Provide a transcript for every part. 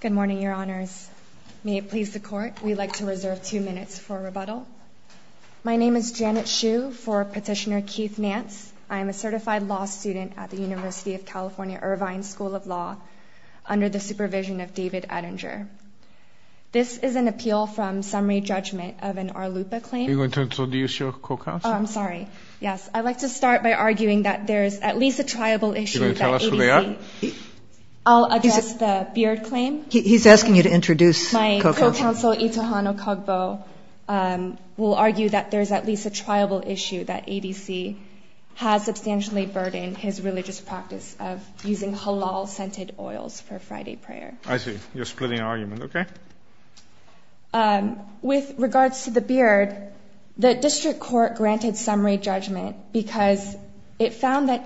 Good morning, Your Honors. May it please the Court, we'd like to reserve two minutes for rebuttal. My name is Janet Hsu for Petitioner Keith Nance. I am a certified law student at the University of California, Irvine School of Law, under the supervision of David Ettinger. This is an appeal from summary judgment of an RLUPA claim. Are you going to introduce your co-counsel? Oh, I'm sorry. Yes, I'd like to start by arguing that there's at least a triable issue. Are you going to tell us who they are? I'll address the Beard claim. He's asking you to introduce Coco. My co-counsel, Itohano Kogbo, will argue that there's at least a triable issue that ADC has substantially burdened his religious practice of using halal-scented oils for Friday prayer. I see. You're splitting argument. Okay. With regards to the Beard, the district court granted summary judgment because it found that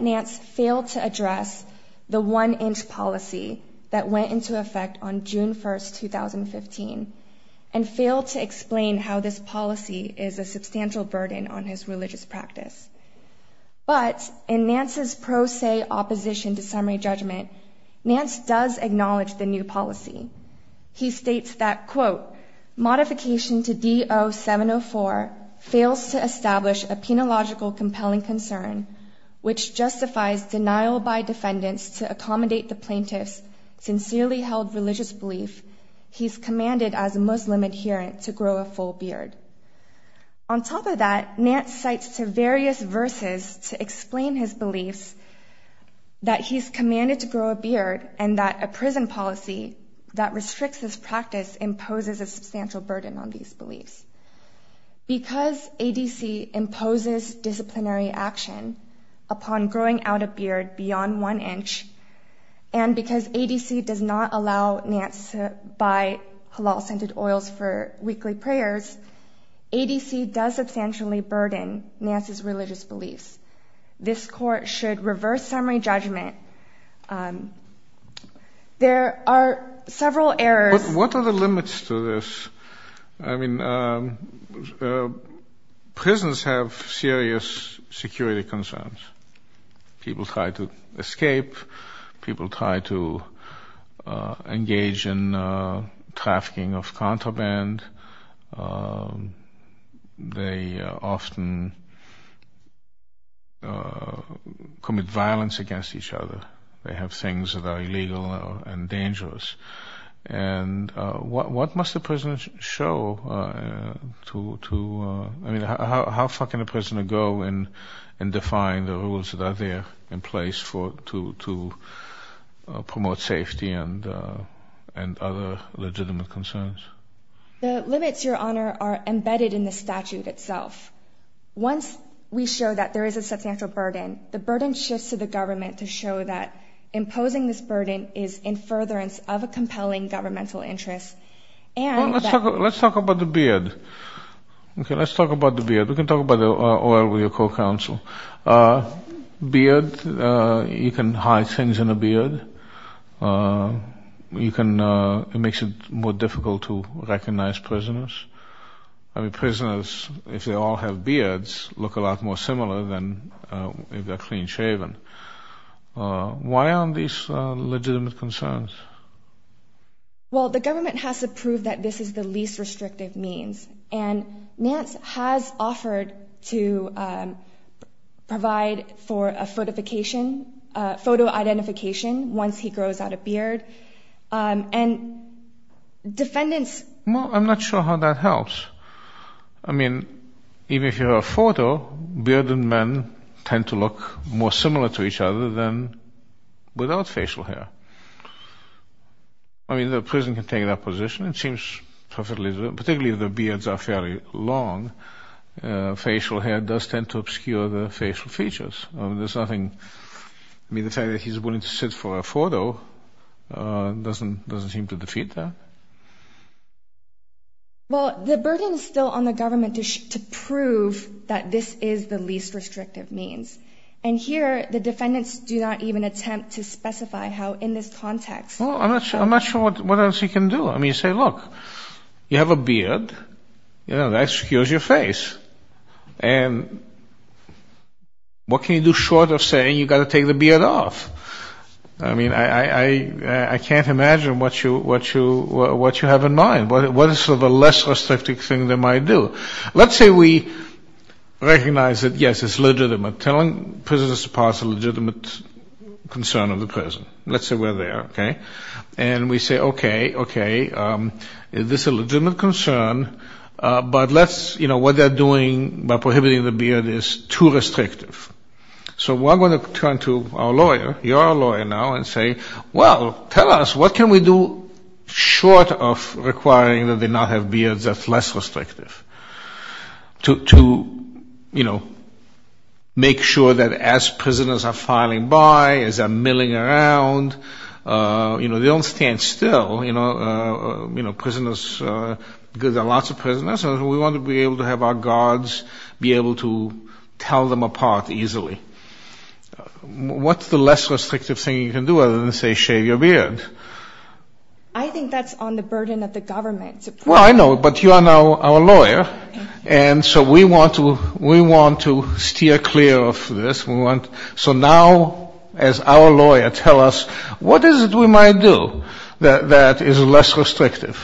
Nance failed to address the one-inch policy that went into effect on June 1, 2015, and failed to explain how this policy is a substantial burden on his religious practice. But, in Nance's pro se opposition to summary judgment, Nance does acknowledge the new policy. He states that, quote, Modification to D-0704 fails to establish a penological compelling concern, which justifies denial by defendants to accommodate the plaintiff's sincerely held religious belief he's commanded as a Muslim adherent to grow a full beard. On top of that, Nance cites to various verses to explain his beliefs that he's commanded to grow a beard, and that a prison policy that restricts his practice imposes a substantial burden on these beliefs. Because ADC imposes disciplinary action upon growing out a beard beyond one inch, and because ADC does not allow Nance to buy halal scented oils for weekly prayers, ADC does substantially burden Nance's religious beliefs. This court should reverse summary judgment. There are several errors. What are the limits to this? I mean, prisons have serious security concerns. People try to escape. People try to engage in trafficking of contraband. They often commit violence against each other. They have things that are illegal and dangerous. And what must a prisoner show to—I mean, how far can a prisoner go in defying the rules that are there in place to promote safety and other legitimate concerns? The limits, Your Honor, are embedded in the statute itself. Once we show that there is a substantial burden, the burden shifts to the government to show that imposing this burden is in furtherance of a compelling governmental interest. Well, let's talk about the beard. Okay, let's talk about the beard. We can talk about the oil with your co-counsel. Beard, you can hide things in a beard. You can—it makes it more difficult to recognize prisoners. I mean, prisoners, if they all have beards, look a lot more similar than if they're clean-shaven. Why aren't these legitimate concerns? Well, the government has to prove that this is the least restrictive means, and Nance has offered to provide for a photo identification once he grows out a beard, and defendants— I'm not sure how that helps. I mean, even if you have a photo, bearded men tend to look more similar to each other than without facial hair. I mean, the prison can take that position. It seems perfectly—particularly if the beards are fairly long, facial hair does tend to obscure the facial features. There's nothing—I mean, the fact that he's willing to sit for a photo doesn't seem to defeat that. Well, the burden is still on the government to prove that this is the least restrictive means. And here, the defendants do not even attempt to specify how, in this context— Well, I'm not sure what else he can do. I mean, say, look, you have a beard. You know, that obscures your face. And what can you do short of saying you've got to take the beard off? I mean, I can't imagine what you have in mind, what is sort of a less restrictive thing they might do. Let's say we recognize that, yes, it's legitimate. Telling prisoners to pass is a legitimate concern of the prison. Let's say we're there, okay? And we say, okay, okay, this is a legitimate concern, but let's— you know, what they're doing by prohibiting the beard is too restrictive. So we're going to turn to our lawyer, your lawyer now, and say, well, tell us, what can we do short of requiring that they not have beards that's less restrictive? To, you know, make sure that as prisoners are filing by, as they're milling around, you know, they don't stand still. You know, prisoners—because there are lots of prisoners, we want to be able to have our guards be able to tell them apart easily. What's the less restrictive thing you can do other than, say, shave your beard? I think that's on the burden of the government. Well, I know, but you are now our lawyer, and so we want to steer clear of this. So now, as our lawyer, tell us, what is it we might do that is less restrictive?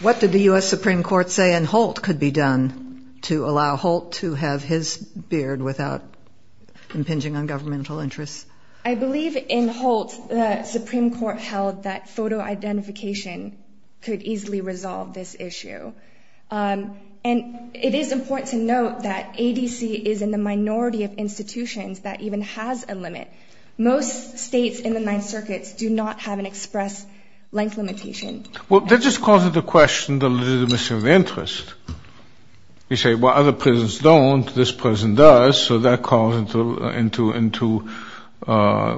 What did the U.S. Supreme Court say in Holt could be done to allow Holt to have his beard without impinging on governmental interests? I believe in Holt the Supreme Court held that photo identification could easily resolve this issue. And it is important to note that ADC is in the minority of institutions that even has a limit. Most states in the Ninth Circuit do not have an express length limitation. Well, that just calls into question the legitimacy of the interest. You say, well, other prisons don't. This prison does. So that calls into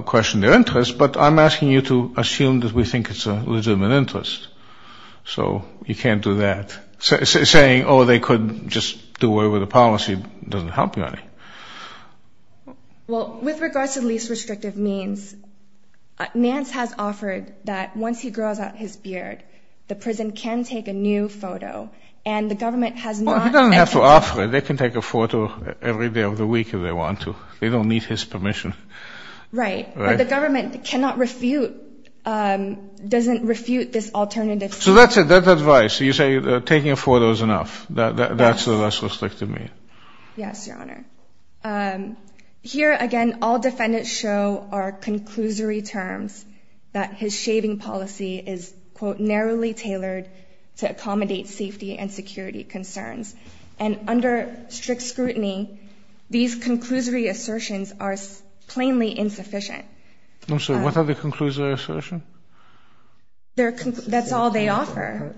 question their interest. But I'm asking you to assume that we think it's a legitimate interest. So you can't do that. Saying, oh, they could just do away with the policy doesn't help you any. Well, with regards to least restrictive means, Nance has offered that once he grows out his beard, the prison can take a new photo. And the government has not. Well, he doesn't have to offer it. They can take a photo every day of the week if they want to. They don't need his permission. Right. But the government cannot refute, doesn't refute this alternative. So that's it. That's advice. You say taking a photo is enough. That's the less restrictive mean. Yes, Your Honor. Here, again, all defendants show are conclusory terms that his shaving policy is, quote, narrowly tailored to accommodate safety and security concerns. And under strict scrutiny, these conclusory assertions are plainly insufficient. I'm sorry. What are the conclusory assertions? That's all they offer.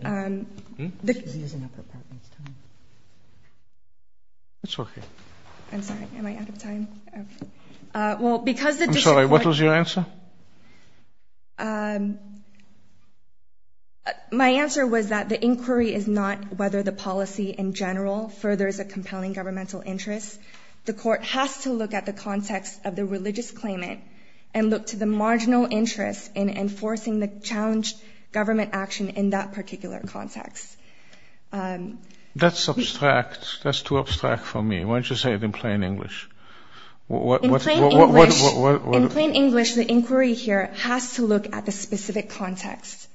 It's okay. I'm sorry. Am I out of time? Well, because the disappointment. I'm sorry. What was your answer? My answer was that the inquiry is not whether the policy in general furthers a compelling governmental interest. The court has to look at the context of the religious claimant and look to the marginal interest in enforcing the challenged government action in that particular context. That's abstract. That's too abstract for me. Why don't you say it in plain English? In plain English, the inquiry here has to look at the specific context.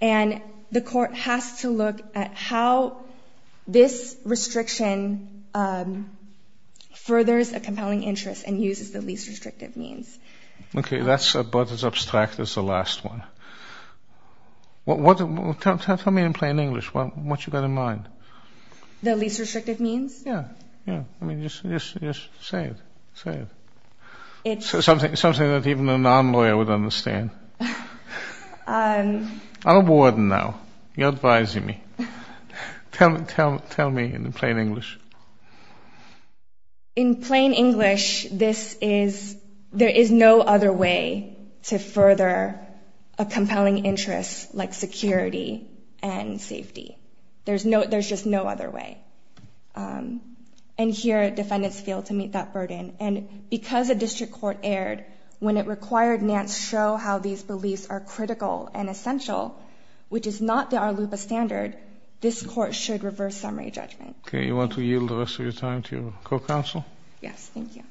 And the court has to look at how this restriction furthers a compelling interest and uses the least restrictive means. Okay. That's about as abstract as the last one. Tell me in plain English what you've got in mind. The least restrictive means? Yeah. Yeah. I mean, just say it. Say it. Something that even a non-lawyer would understand. I'm a warden now. You're advising me. Tell me in plain English. In plain English, there is no other way to further a compelling interest like security and safety. There's just no other way. And here, defendants fail to meet that burden. And because a district court erred when it required Nance show how these beliefs are critical and essential, which is not the Arlupa standard, this court should reverse summary judgment. Okay. You want to yield the rest of your time to your co-counsel? Yes. Thank you.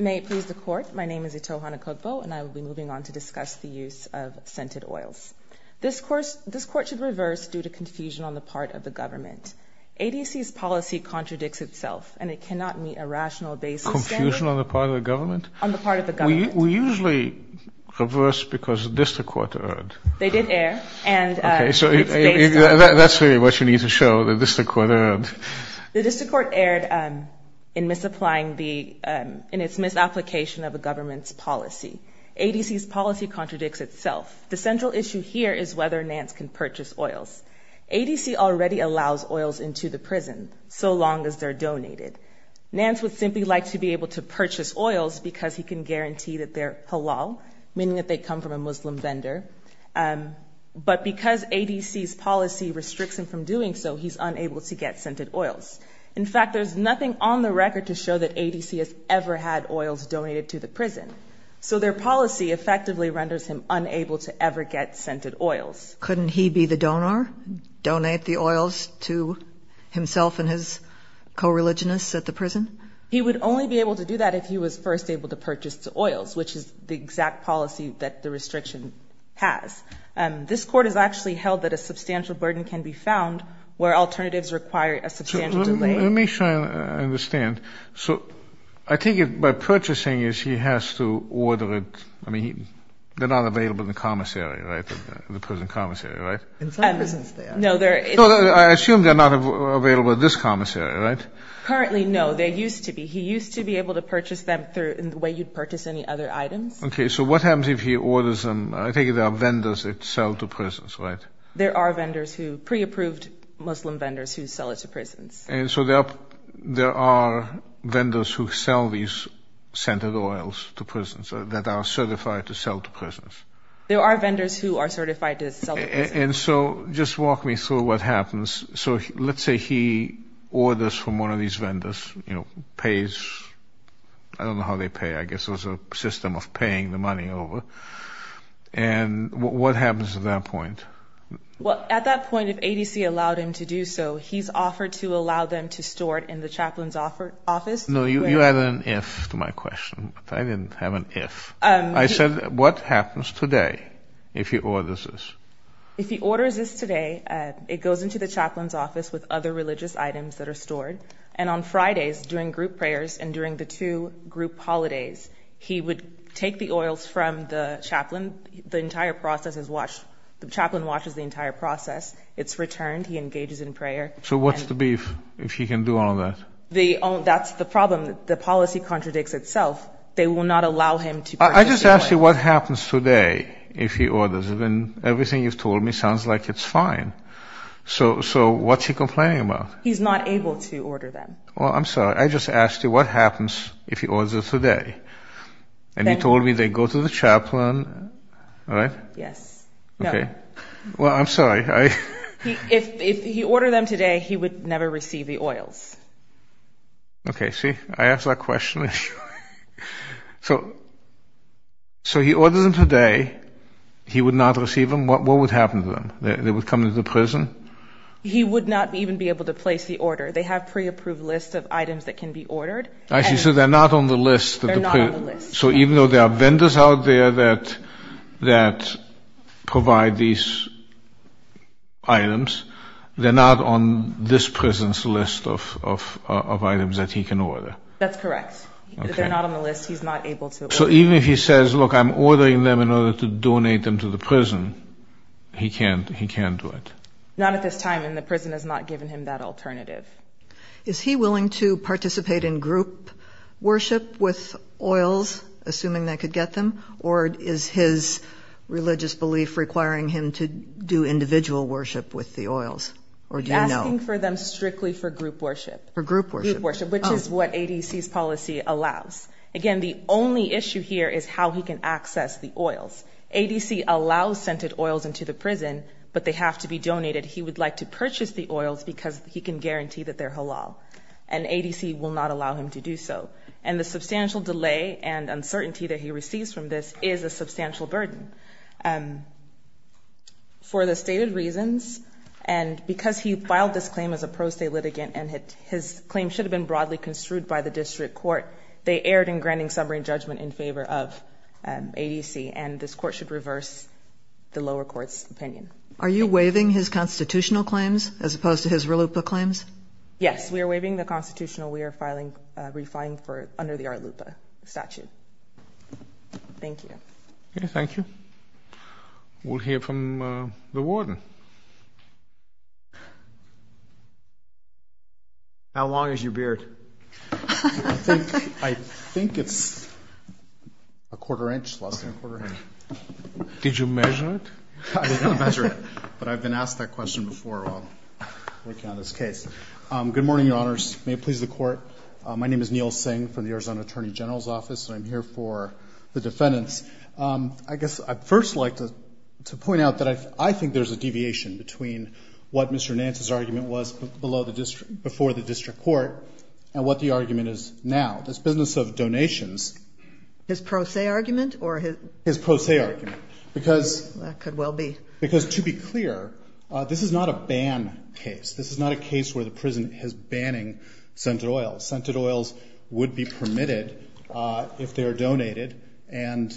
May it please the Court. My name is Itohana Kokpo, and I will be moving on to discuss the use of scented oils. This court should reverse due to confusion on the part of the government. ADC's policy contradicts itself, and it cannot meet a rational basis standard. Confusion on the part of the government? On the part of the government. We usually reverse because the district court erred. They did err. Okay. So that's really what you need to show, the district court erred. The district court erred in its misapplication of a government's policy. ADC's policy contradicts itself. The central issue here is whether Nance can purchase oils. ADC already allows oils into the prison, so long as they're donated. Nance would simply like to be able to purchase oils because he can guarantee that they're halal, meaning that they come from a Muslim vendor. But because ADC's policy restricts him from doing so, he's unable to get scented oils. In fact, there's nothing on the record to show that ADC has ever had oils donated to the prison. So their policy effectively renders him unable to ever get scented oils. Couldn't he be the donor, donate the oils to himself and his co-religionists at the prison? He would only be able to do that if he was first able to purchase the oils, which is the exact policy that the restriction has. This court has actually held that a substantial burden can be found where alternatives require a substantial delay. Let me try to understand. So I think by purchasing it, he has to order it. I mean, they're not available in the commissary, right, the prison commissary, right? In some prisons, they are. No, they're not. I assume they're not available at this commissary, right? Currently, no. They used to be. He used to be able to purchase them in the way you'd purchase any other items. Okay, so what happens if he orders them? I take it there are vendors that sell to prisons, right? There are vendors who, pre-approved Muslim vendors, who sell it to prisons. And so there are vendors who sell these scented oils to prisons, that are certified to sell to prisons. There are vendors who are certified to sell to prisons. And so just walk me through what happens. So let's say he orders from one of these vendors, you know, pays. I don't know how they pay. I guess there's a system of paying the money over. And what happens at that point? Well, at that point, if ADC allowed him to do so, he's offered to allow them to store it in the chaplain's office. No, you added an if to my question. I didn't have an if. I said what happens today if he orders this? If he orders this today, it goes into the chaplain's office with other religious items that are stored. And on Fridays, during group prayers and during the two group holidays, he would take the oils from the chaplain. The entire process is watched. The chaplain watches the entire process. It's returned. He engages in prayer. So what's the beef if he can do all of that? That's the problem. The policy contradicts itself. They will not allow him to purchase the oil. I just asked you what happens today if he orders. Everything you've told me sounds like it's fine. So what's he complaining about? He's not able to order them. Well, I'm sorry. I just asked you what happens if he orders it today. And you told me they go to the chaplain, right? Yes. Okay. Well, I'm sorry. If he ordered them today, he would never receive the oils. Okay. See, I asked that question. So he orders them today. He would not receive them. What would happen to them? They would come into the prison? He would not even be able to place the order. They have pre-approved lists of items that can be ordered. I see. So they're not on the list. They're not on the list. So even though there are vendors out there that provide these items, they're not on this prison's list of items that he can order. That's correct. They're not on the list. He's not able to order them. So even if he says, look, I'm ordering them in order to donate them to the prison, he can't do it? Not at this time. And the prison has not given him that alternative. Is he willing to participate in group worship with oils, assuming they could get them? Or is his religious belief requiring him to do individual worship with the oils? Or do you know? He's asking for them strictly for group worship. For group worship. Which is what ADC's policy allows. Again, the only issue here is how he can access the oils. ADC allows scented oils into the prison, but they have to be donated. He would like to purchase the oils because he can guarantee that they're halal. And ADC will not allow him to do so. And the substantial delay and uncertainty that he receives from this is a substantial burden for the stated reasons. And because he filed this claim as a pro se litigant and his claim should have been broadly construed by the district court, they erred in granting summary judgment in favor of ADC. And this court should reverse the lower court's opinion. Are you waiving his constitutional claims as opposed to his RLUIPA claims? Yes. We are waiving the constitutional. We are refining under the RLUIPA statute. Thank you. Thank you. We'll hear from the warden. How long is your beard? I think it's a quarter inch, less than a quarter inch. Did you measure it? I did not measure it, but I've been asked that question before while working on this case. Good morning, Your Honors. May it please the court. My name is Neil Singh from the Arizona Attorney General's Office, and I'm here for the defendants. I guess I'd first like to point out that I think there's a deviation between what Mr. Nance's argument was before the district court and what the argument is now. This business of donations. His pro se argument or his? His pro se argument. That could well be. Because to be clear, this is not a ban case. This is not a case where the prison is banning scented oils. Scented oils would be permitted if they are donated and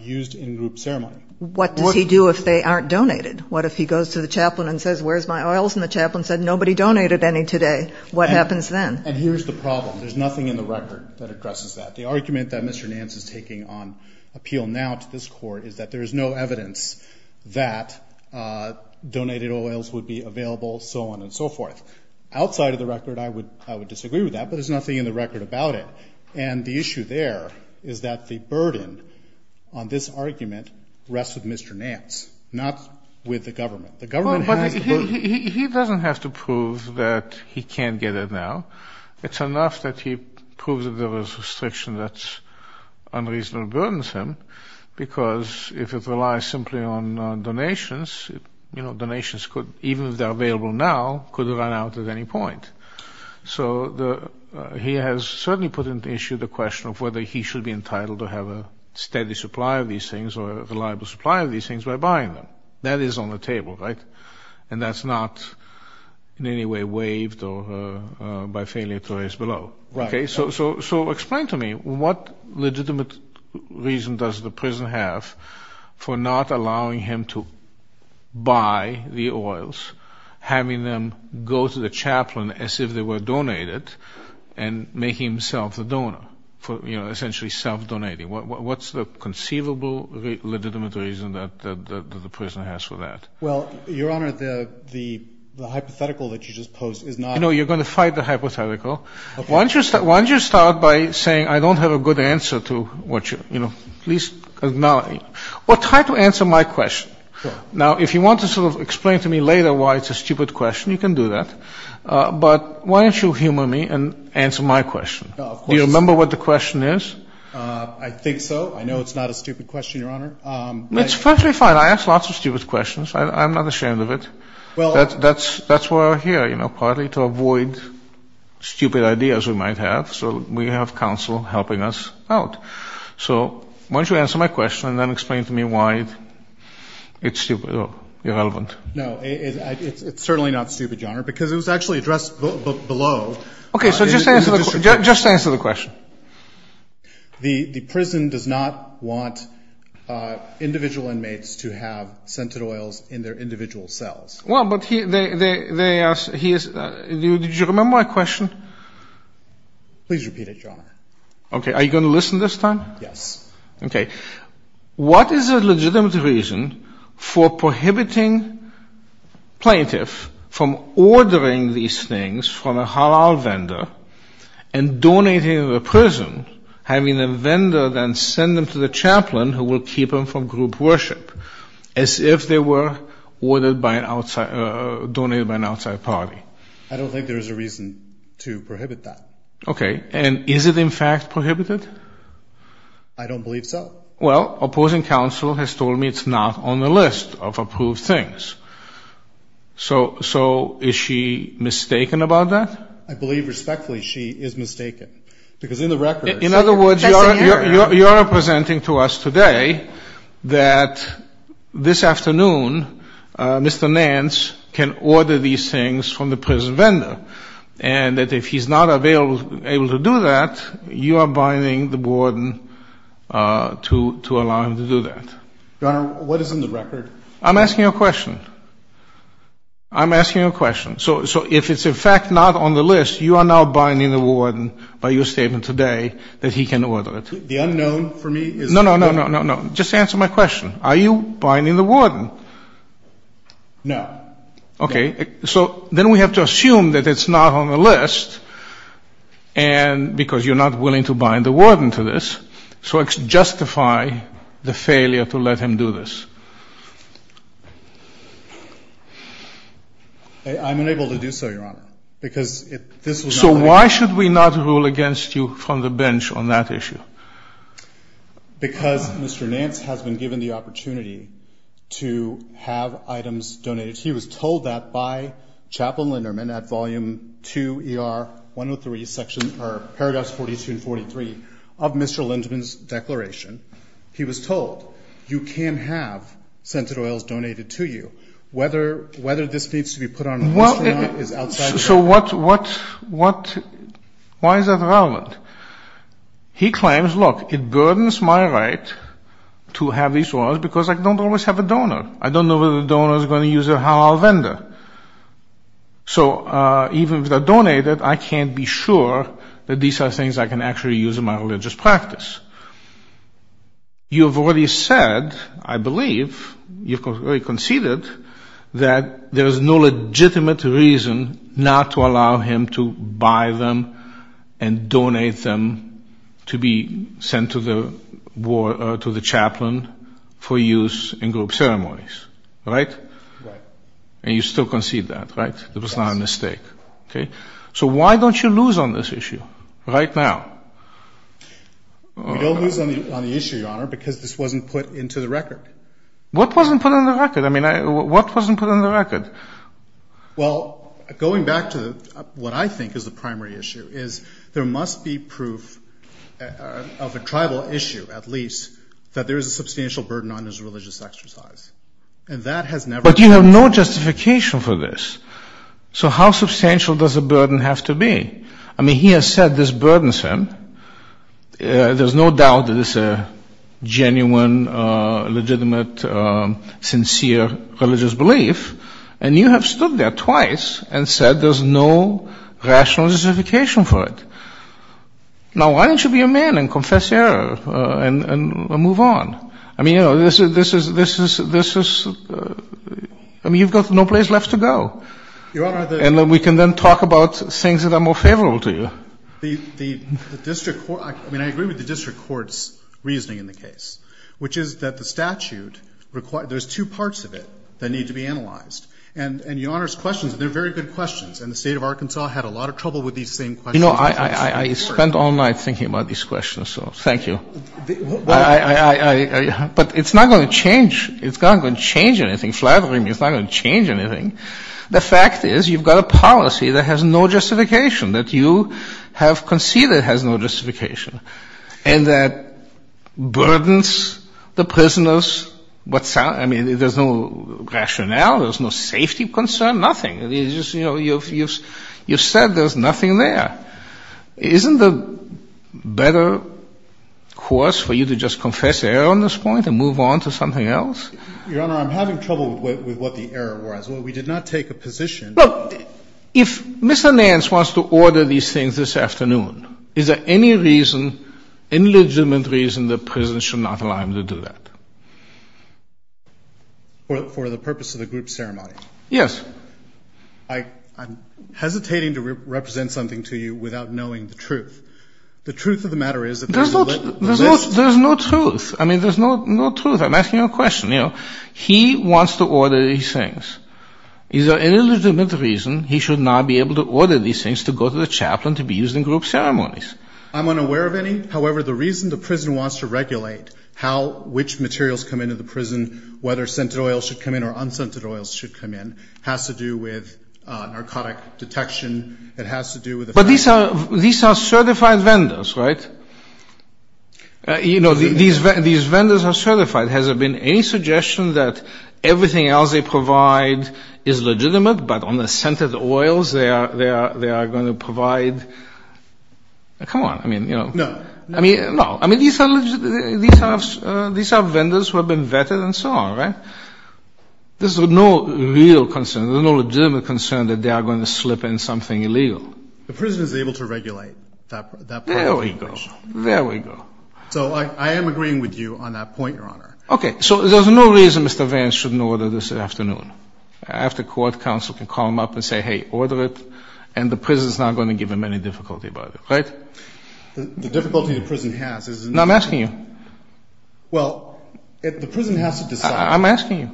used in group ceremony. What does he do if they aren't donated? What if he goes to the chaplain and says, where's my oils? And the chaplain said, nobody donated any today. What happens then? And here's the problem. There's nothing in the record that addresses that. The argument that Mr. Nance is taking on appeal now to this court is that there is no evidence that donated oils would be available, so on and so forth. Outside of the record, I would disagree with that, but there's nothing in the record about it. And the issue there is that the burden on this argument rests with Mr. Nance, not with the government. The government has the burden. He doesn't have to prove that he can't get it now. It's enough that he proves that there was a restriction that unreasonably burdens him, because if it relies simply on donations, donations could, even if they're available now, could run out at any point. So he has certainly put into issue the question of whether he should be entitled to have a steady supply of these things or a reliable supply of these things by buying them. That is on the table, right? And that's not in any way waived by failure to raise below. So explain to me, what legitimate reason does the prison have for not allowing him to buy the oils, having them go to the chaplain as if they were donated, and making himself a donor, essentially self-donating? What's the conceivable legitimate reason that the prison has for that? Well, Your Honor, the hypothetical that you just posed is not... You know, you're going to fight the hypothetical. Why don't you start by saying, I don't have a good answer to what you, you know, at least acknowledge. Well, try to answer my question. Now, if you want to sort of explain to me later why it's a stupid question, you can do that. But why don't you humor me and answer my question? Do you remember what the question is? I think so. I know it's not a stupid question, Your Honor. It's perfectly fine. I ask lots of stupid questions. I'm not ashamed of it. That's why we're here, you know, partly to avoid stupid ideas we might have. So we have counsel helping us out. So why don't you answer my question and then explain to me why it's stupid or irrelevant. No, it's certainly not stupid, Your Honor, because it was actually addressed below. Okay, so just answer the question. The prison does not want individual inmates to have scented oils in their individual cells. Well, but they ask, did you remember my question? Please repeat it, Your Honor. Okay. Are you going to listen this time? Yes. Okay. What is a legitimate reason for prohibiting plaintiffs from ordering these things from a halal vendor and donating them to the prison, having the vendor then send them to the chaplain who will keep them from group worship, as if they were ordered by an outside, donated by an outside party? I don't think there's a reason to prohibit that. Okay. And is it in fact prohibited? I don't believe so. Well, opposing counsel has told me it's not on the list of approved things. So is she mistaken about that? I believe respectfully she is mistaken, because in the record... In other words, Your Honor is presenting to us today that this afternoon Mr. Nance can order these things from the prison vendor, and that if he's not able to do that, you are binding the warden to allow him to do that. Your Honor, what is in the record? I'm asking a question. I'm asking a question. So if it's in fact not on the list, you are now binding the warden by your statement today that he can order it? The unknown for me is... No, no, no, no, no. Just answer my question. Are you binding the warden? No. Okay. So then we have to assume that it's not on the list, because you're not willing to bind the warden to this. So justify the failure to let him do this. I'm unable to do so, Your Honor, because if this was not on the list... So why should we not rule against you from the bench on that issue? Because Mr. Nance has been given the opportunity to have items donated. He was told that by Chaplain Linderman at Volume II, ER 103, Section or Paragraphs 42 and 43 of Mr. Linderman's declaration. He was told, you can have scented oils donated to you. Whether this needs to be put on the list or not is outside the question. So why is that relevant? He claims, look, it burdens my right to have these oils because I don't always have a donor. I don't know whether the donor is going to use a halal vendor. So even if they're donated, I can't be sure that these are things I can actually use in my religious practice. You've already said, I believe, you've already conceded that there is no legitimate reason not to allow him to buy them and donate them to be sent to the chaplain for use in group ceremonies, right? And you still concede that, right? Yes. It was not a mistake. Okay. So why don't you lose on this issue right now? We don't lose on the issue, Your Honor, because this wasn't put into the record. What wasn't put on the record? I mean, what wasn't put on the record? Well, going back to what I think is the primary issue is there must be proof of a tribal issue, at least, that there is a substantial burden on his religious exercise. But you have no justification for this. So how substantial does a burden have to be? I mean, he has said this burdens him. There's no doubt that it's a genuine, legitimate, sincere religious belief. And you have stood there twice and said there's no rational justification for it. Now, why don't you be a man and confess error and move on? I mean, you know, this is — I mean, you've got no place left to go. Your Honor, the — And we can then talk about things that are more favorable to you. The district court — I mean, I agree with the district court's reasoning in the case, which is that the statute requires — there's two parts of it that need to be analyzed. And, Your Honor's questions, they're very good questions, and the state of Arkansas had a lot of trouble with these same questions. You know, I spent all night thinking about these questions, so thank you. But it's not going to change — it's not going to change anything. Flattery is not going to change anything. The fact is you've got a policy that has no justification, that you have conceded has no justification, and that burdens the prisoners what — I mean, there's no rationale, there's no safety concern, nothing. You know, you've said there's nothing there. Isn't the better course for you to just confess error on this point and move on to something else? Your Honor, I'm having trouble with what the error was. We did not take a position — Look, if Mr. Nance wants to order these things this afternoon, is there any reason, illegitimate reason, that prisons should not allow him to do that? For the purpose of the group ceremony? Yes. I'm hesitating to represent something to you without knowing the truth. The truth of the matter is — There's no truth. I mean, there's no truth. I'm asking you a question, you know. He wants to order these things. Is there any legitimate reason he should not be able to order these things to go to the chaplain to be used in group ceremonies? I'm unaware of any. However, the reason the prison wants to regulate how — which materials come into the prison, whether scented oils should come in or unscented oils should come in, has to do with narcotic detection. It has to do with — But these are certified vendors, right? You know, these vendors are certified. Has there been any suggestion that everything else they provide is legitimate, but on the scented oils they are going to provide — come on, I mean, you know. No. I mean, no. I mean, these are vendors who have been vetted and so on, right? There's no real concern. There's no legitimate concern that they are going to slip in something illegal. The prison is able to regulate that part of the operation. There we go. There we go. So I am agreeing with you on that point, Your Honor. Okay. So there's no reason Mr. Vance shouldn't order this afternoon. After court, counsel can call him up and say, hey, order it, and the prison is not going to give him any difficulty about it, right? The difficulty the prison has is — Now, I'm asking you. Well, the prison has to decide. I'm asking you.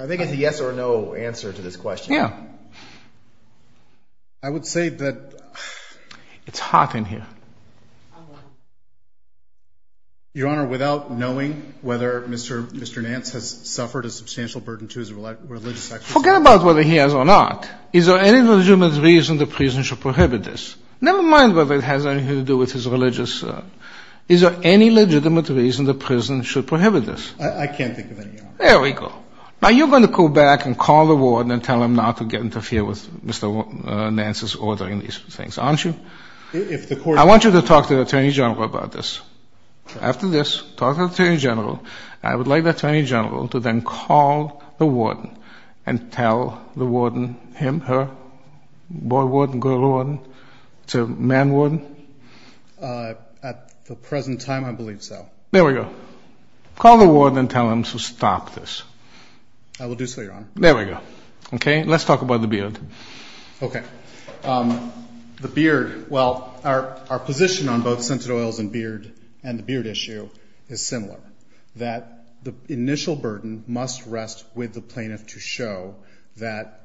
I think it's a yes or no answer to this question. Yeah. I would say that — It's hot in here. Your Honor, without knowing whether Mr. Nance has suffered a substantial burden to his religious — Forget about whether he has or not. Is there any legitimate reason the prison should prohibit this? Never mind whether it has anything to do with his religious — Is there any legitimate reason the prison should prohibit this? I can't think of any, Your Honor. There we go. Now, you're going to go back and call the warden and tell him not to get interfered with Mr. Nance's ordering these things, aren't you? If the court — I want you to talk to the attorney general about this. Okay. After this, talk to the attorney general. I would like the attorney general to then call the warden and tell the warden him, her, boy warden, girl warden, man warden. At the present time, I believe so. There we go. Call the warden and tell him to stop this. I will do so, Your Honor. There we go. Okay. Let's talk about the beard. Okay. The beard — well, our position on both scented oils and beard — and the beard issue is similar, that the initial burden must rest with the plaintiff to show that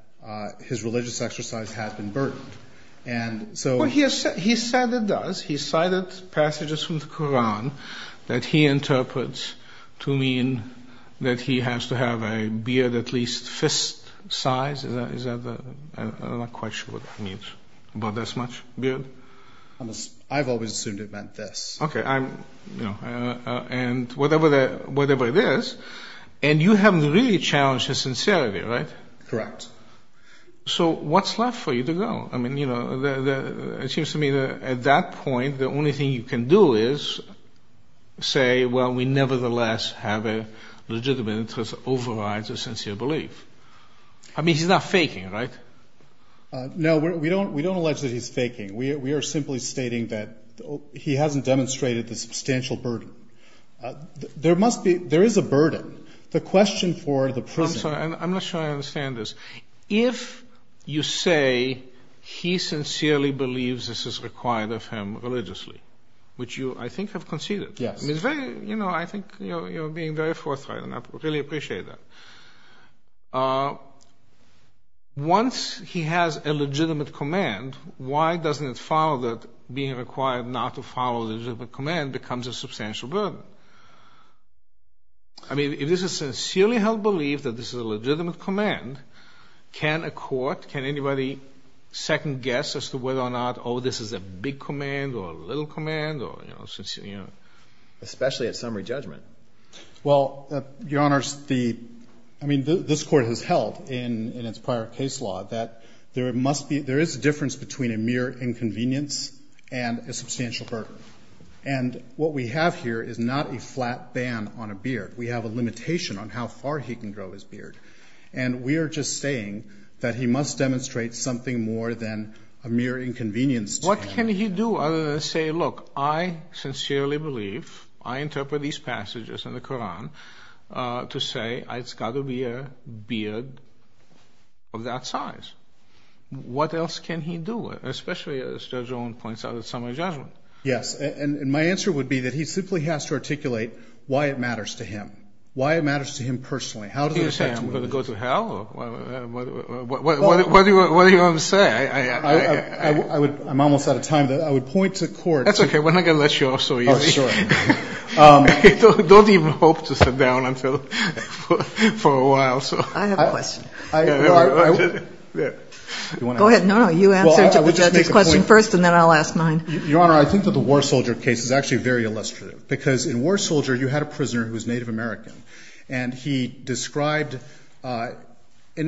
his religious exercise has been burdened. And so — He said it does. He cited passages from the Koran that he interprets to mean that he has to have a beard at least fist size. Is that the — I'm not quite sure what that means. About this much beard? I've always assumed it meant this. Okay. And whatever it is — and you haven't really challenged his sincerity, right? Correct. So what's left for you to go? I mean, you know, it seems to me that at that point the only thing you can do is say, well, we nevertheless have a legitimate interest to override the sincere belief. I mean, he's not faking, right? No, we don't allege that he's faking. We are simply stating that he hasn't demonstrated the substantial burden. There must be — there is a burden. The question for the prisoner — I'm sorry. I'm not sure I understand this. If you say he sincerely believes this is required of him religiously, which you, I think, have conceded. Yes. You know, I think you're being very forthright, and I really appreciate that. Once he has a legitimate command, why doesn't it follow that being required not to follow the command becomes a substantial burden? I mean, if this is sincerely held belief that this is a legitimate command, can a court, can anybody second-guess as to whether or not, oh, this is a big command or a little command or, you know — Especially at summary judgment. Well, Your Honors, the — I mean, this Court has held in its prior case law that there must be — there is a difference between a mere inconvenience and a substantial burden. And what we have here is not a flat ban on a beard. We have a limitation on how far he can grow his beard. And we are just saying that he must demonstrate something more than a mere inconvenience to him. What can he do other than say, look, I sincerely believe, I interpret these passages in the Quran to say, it's got to be a beard of that size. What else can he do, especially as Judge Owen points out at summary judgment? Yes. And my answer would be that he simply has to articulate why it matters to him, why it matters to him personally. How does it affect him? Is he going to go to hell? What do you want to say? I would — I'm almost out of time. I would point to court — That's okay. We're not going to let you off so easily. Oh, sure. Don't even hope to sit down until — for a while. I have a question. Go ahead. No, no. You answer the judge's question first, and then I'll ask mine. Your Honor, I think that the war soldier case is actually very illustrative, because in war soldier you had a prisoner who was Native American, and he described — in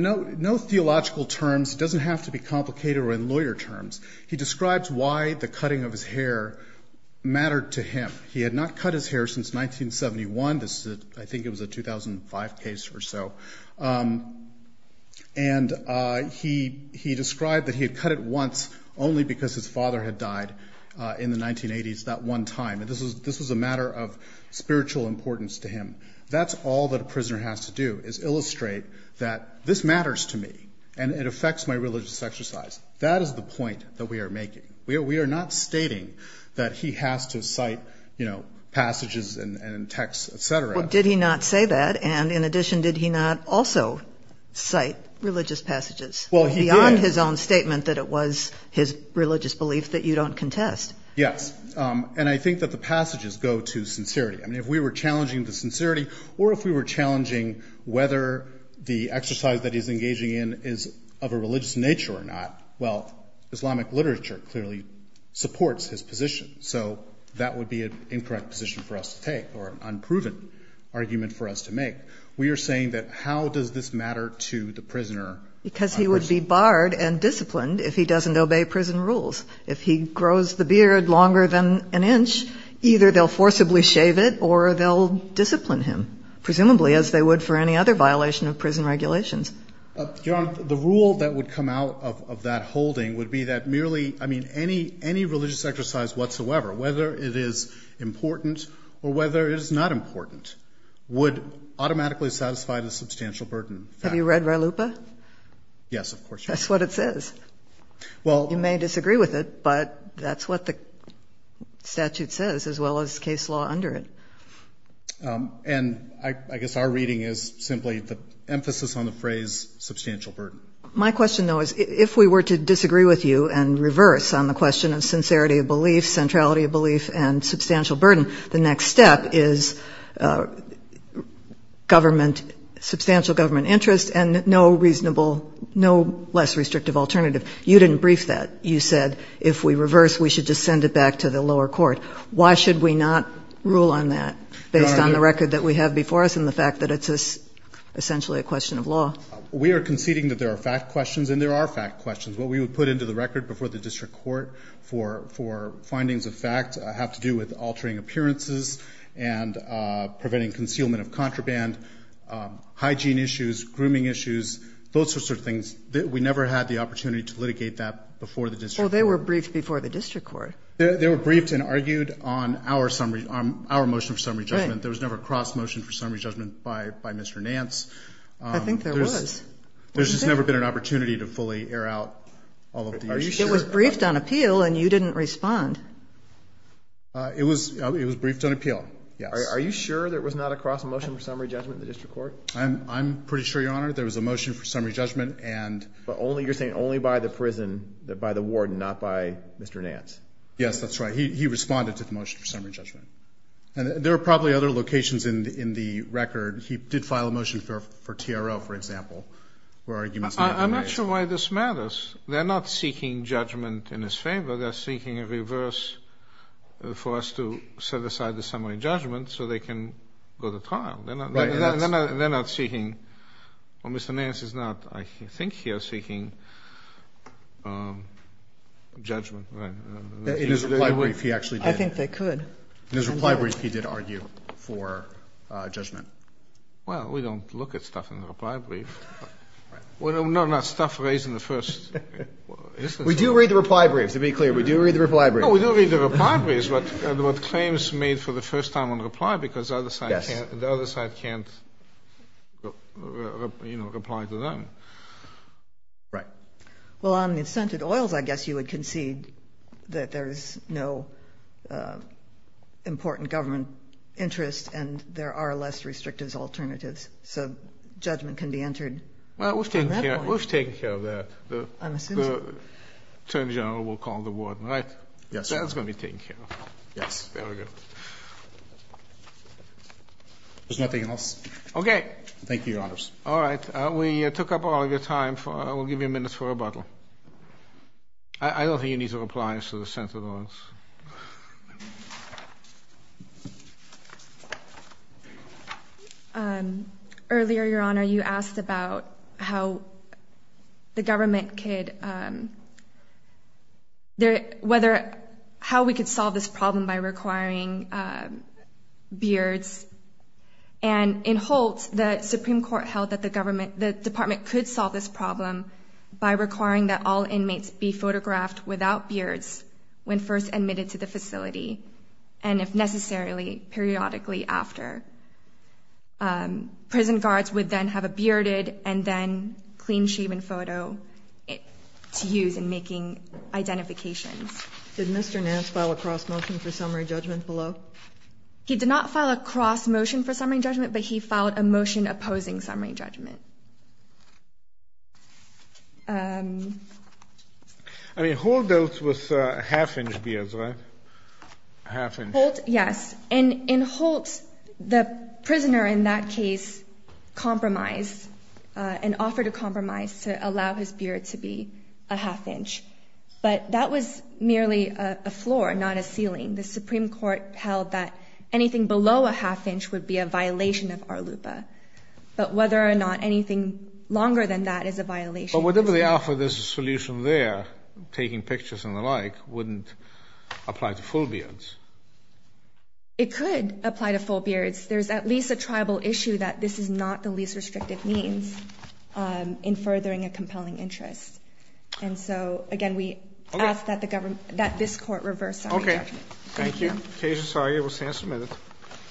no theological terms. It doesn't have to be complicated or in lawyer terms. He describes why the cutting of his hair mattered to him. He had not cut his hair since 1971. I think it was a 2005 case or so. And he described that he had cut it once only because his father had died in the 1980s that one time. This was a matter of spiritual importance to him. That's all that a prisoner has to do is illustrate that this matters to me and it affects my religious exercise. That is the point that we are making. We are not stating that he has to cite, you know, passages and texts, et cetera. Well, did he not say that? And in addition, did he not also cite religious passages? Well, he did. Beyond his own statement that it was his religious belief that you don't contest. Yes. And I think that the passages go to sincerity. I mean, if we were challenging the sincerity or if we were challenging whether the exercise that he's engaging in is of a religious nature or not, well, Islamic literature clearly supports his position. So that would be an incorrect position for us to take or an unproven argument for us to make. We are saying that how does this matter to the prisoner? Because he would be barred and disciplined if he doesn't obey prison rules. If he grows the beard longer than an inch, either they'll forcibly shave it or they'll discipline him, presumably as they would for any other violation of prison regulations. Your Honor, the rule that would come out of that holding would be that merely, I mean, any religious exercise whatsoever, whether it is important or whether it is not important, would automatically satisfy the substantial burden. Have you read Re Lupa? Yes, of course. That's what it says. You may disagree with it, but that's what the statute says as well as case law under it. And I guess our reading is simply the emphasis on the phrase substantial burden. My question, though, is if we were to disagree with you and reverse on the question of sincerity of belief, centrality of belief, and substantial burden, the next step is substantial government interest and no less restrictive alternative. You didn't brief that. You said if we reverse, we should just send it back to the lower court. Why should we not rule on that based on the record that we have before us and the fact that it's essentially a question of law? We are conceding that there are fact questions, and there are fact questions. What we would put into the record before the district court for findings of fact have to do with altering appearances and preventing concealment of contraband, hygiene issues, grooming issues, those sorts of things. We never had the opportunity to litigate that before the district court. Well, they were briefed before the district court. They were briefed and argued on our motion for summary judgment. There was never a cross motion for summary judgment by Mr. Nance. I think there was. There's just never been an opportunity to fully air out all of the issues. It was briefed on appeal, and you didn't respond. It was briefed on appeal, yes. Are you sure there was not a cross motion for summary judgment in the district court? I'm pretty sure, Your Honor, there was a motion for summary judgment. You're saying only by the prison, by the warden, not by Mr. Nance? Yes, that's right. He responded to the motion for summary judgment. There are probably other locations in the record. He did file a motion for TRO, for example, where arguments may have been raised. I'm not sure why this matters. They're not seeking judgment in his favor. They're seeking a reverse for us to set aside the summary judgment so they can go to trial. They're not seeking, or Mr. Nance is not, I think he is seeking judgment. In his reply brief, he actually did. I think they could. In his reply brief, he did argue for judgment. Well, we don't look at stuff in the reply brief. No, not stuff raised in the first instance. We do read the reply brief, to be clear. We do read the reply brief. No, we do read the reply brief. That is what claims made for the first time on reply, because the other side can't reply to them. Right. Well, on the incented oils, I guess you would concede that there is no important government interest and there are less restrictive alternatives, so judgment can be entered from that point. Well, we've taken care of that. I'm assuming. Attorney General will call the warden, right? Yes. That's going to be taken care of. Yes. Very good. There's nothing else. Okay. Thank you, Your Honors. All right. We took up all of your time. We'll give you a minute for rebuttal. I don't think you need to reply to the scented oils. Earlier, Your Honor, you asked about how the government could – whether – how we could solve this problem by requiring beards, and in Holtz, the Supreme Court held that the government – the department could solve this problem by requiring that all inmates be photographed without beards when first admitted to the facility, and if necessarily, periodically after. Prison guards would then have a bearded and then clean-shaven photo to use in making identifications. Did Mr. Nance file a cross-motion for summary judgment below? He did not file a cross-motion for summary judgment, but he filed a motion opposing summary judgment. I mean, Holtz dealt with half-inch beards, right? Half-inch. Holtz – yes. In Holtz, the prisoner in that case compromised and offered a compromise to allow his beard to be a half-inch, but that was merely a floor, not a ceiling. The Supreme Court held that anything below a half-inch would be a violation of ARLUPA, but whether or not anything longer than that is a violation. But whatever the alpha, there's a solution there. Taking pictures and the like wouldn't apply to full beards. It could apply to full beards. There's at least a tribal issue that this is not the least restrictive means in furthering a compelling interest. And so, again, we ask that this Court reverse summary judgment. Okay. Thank you.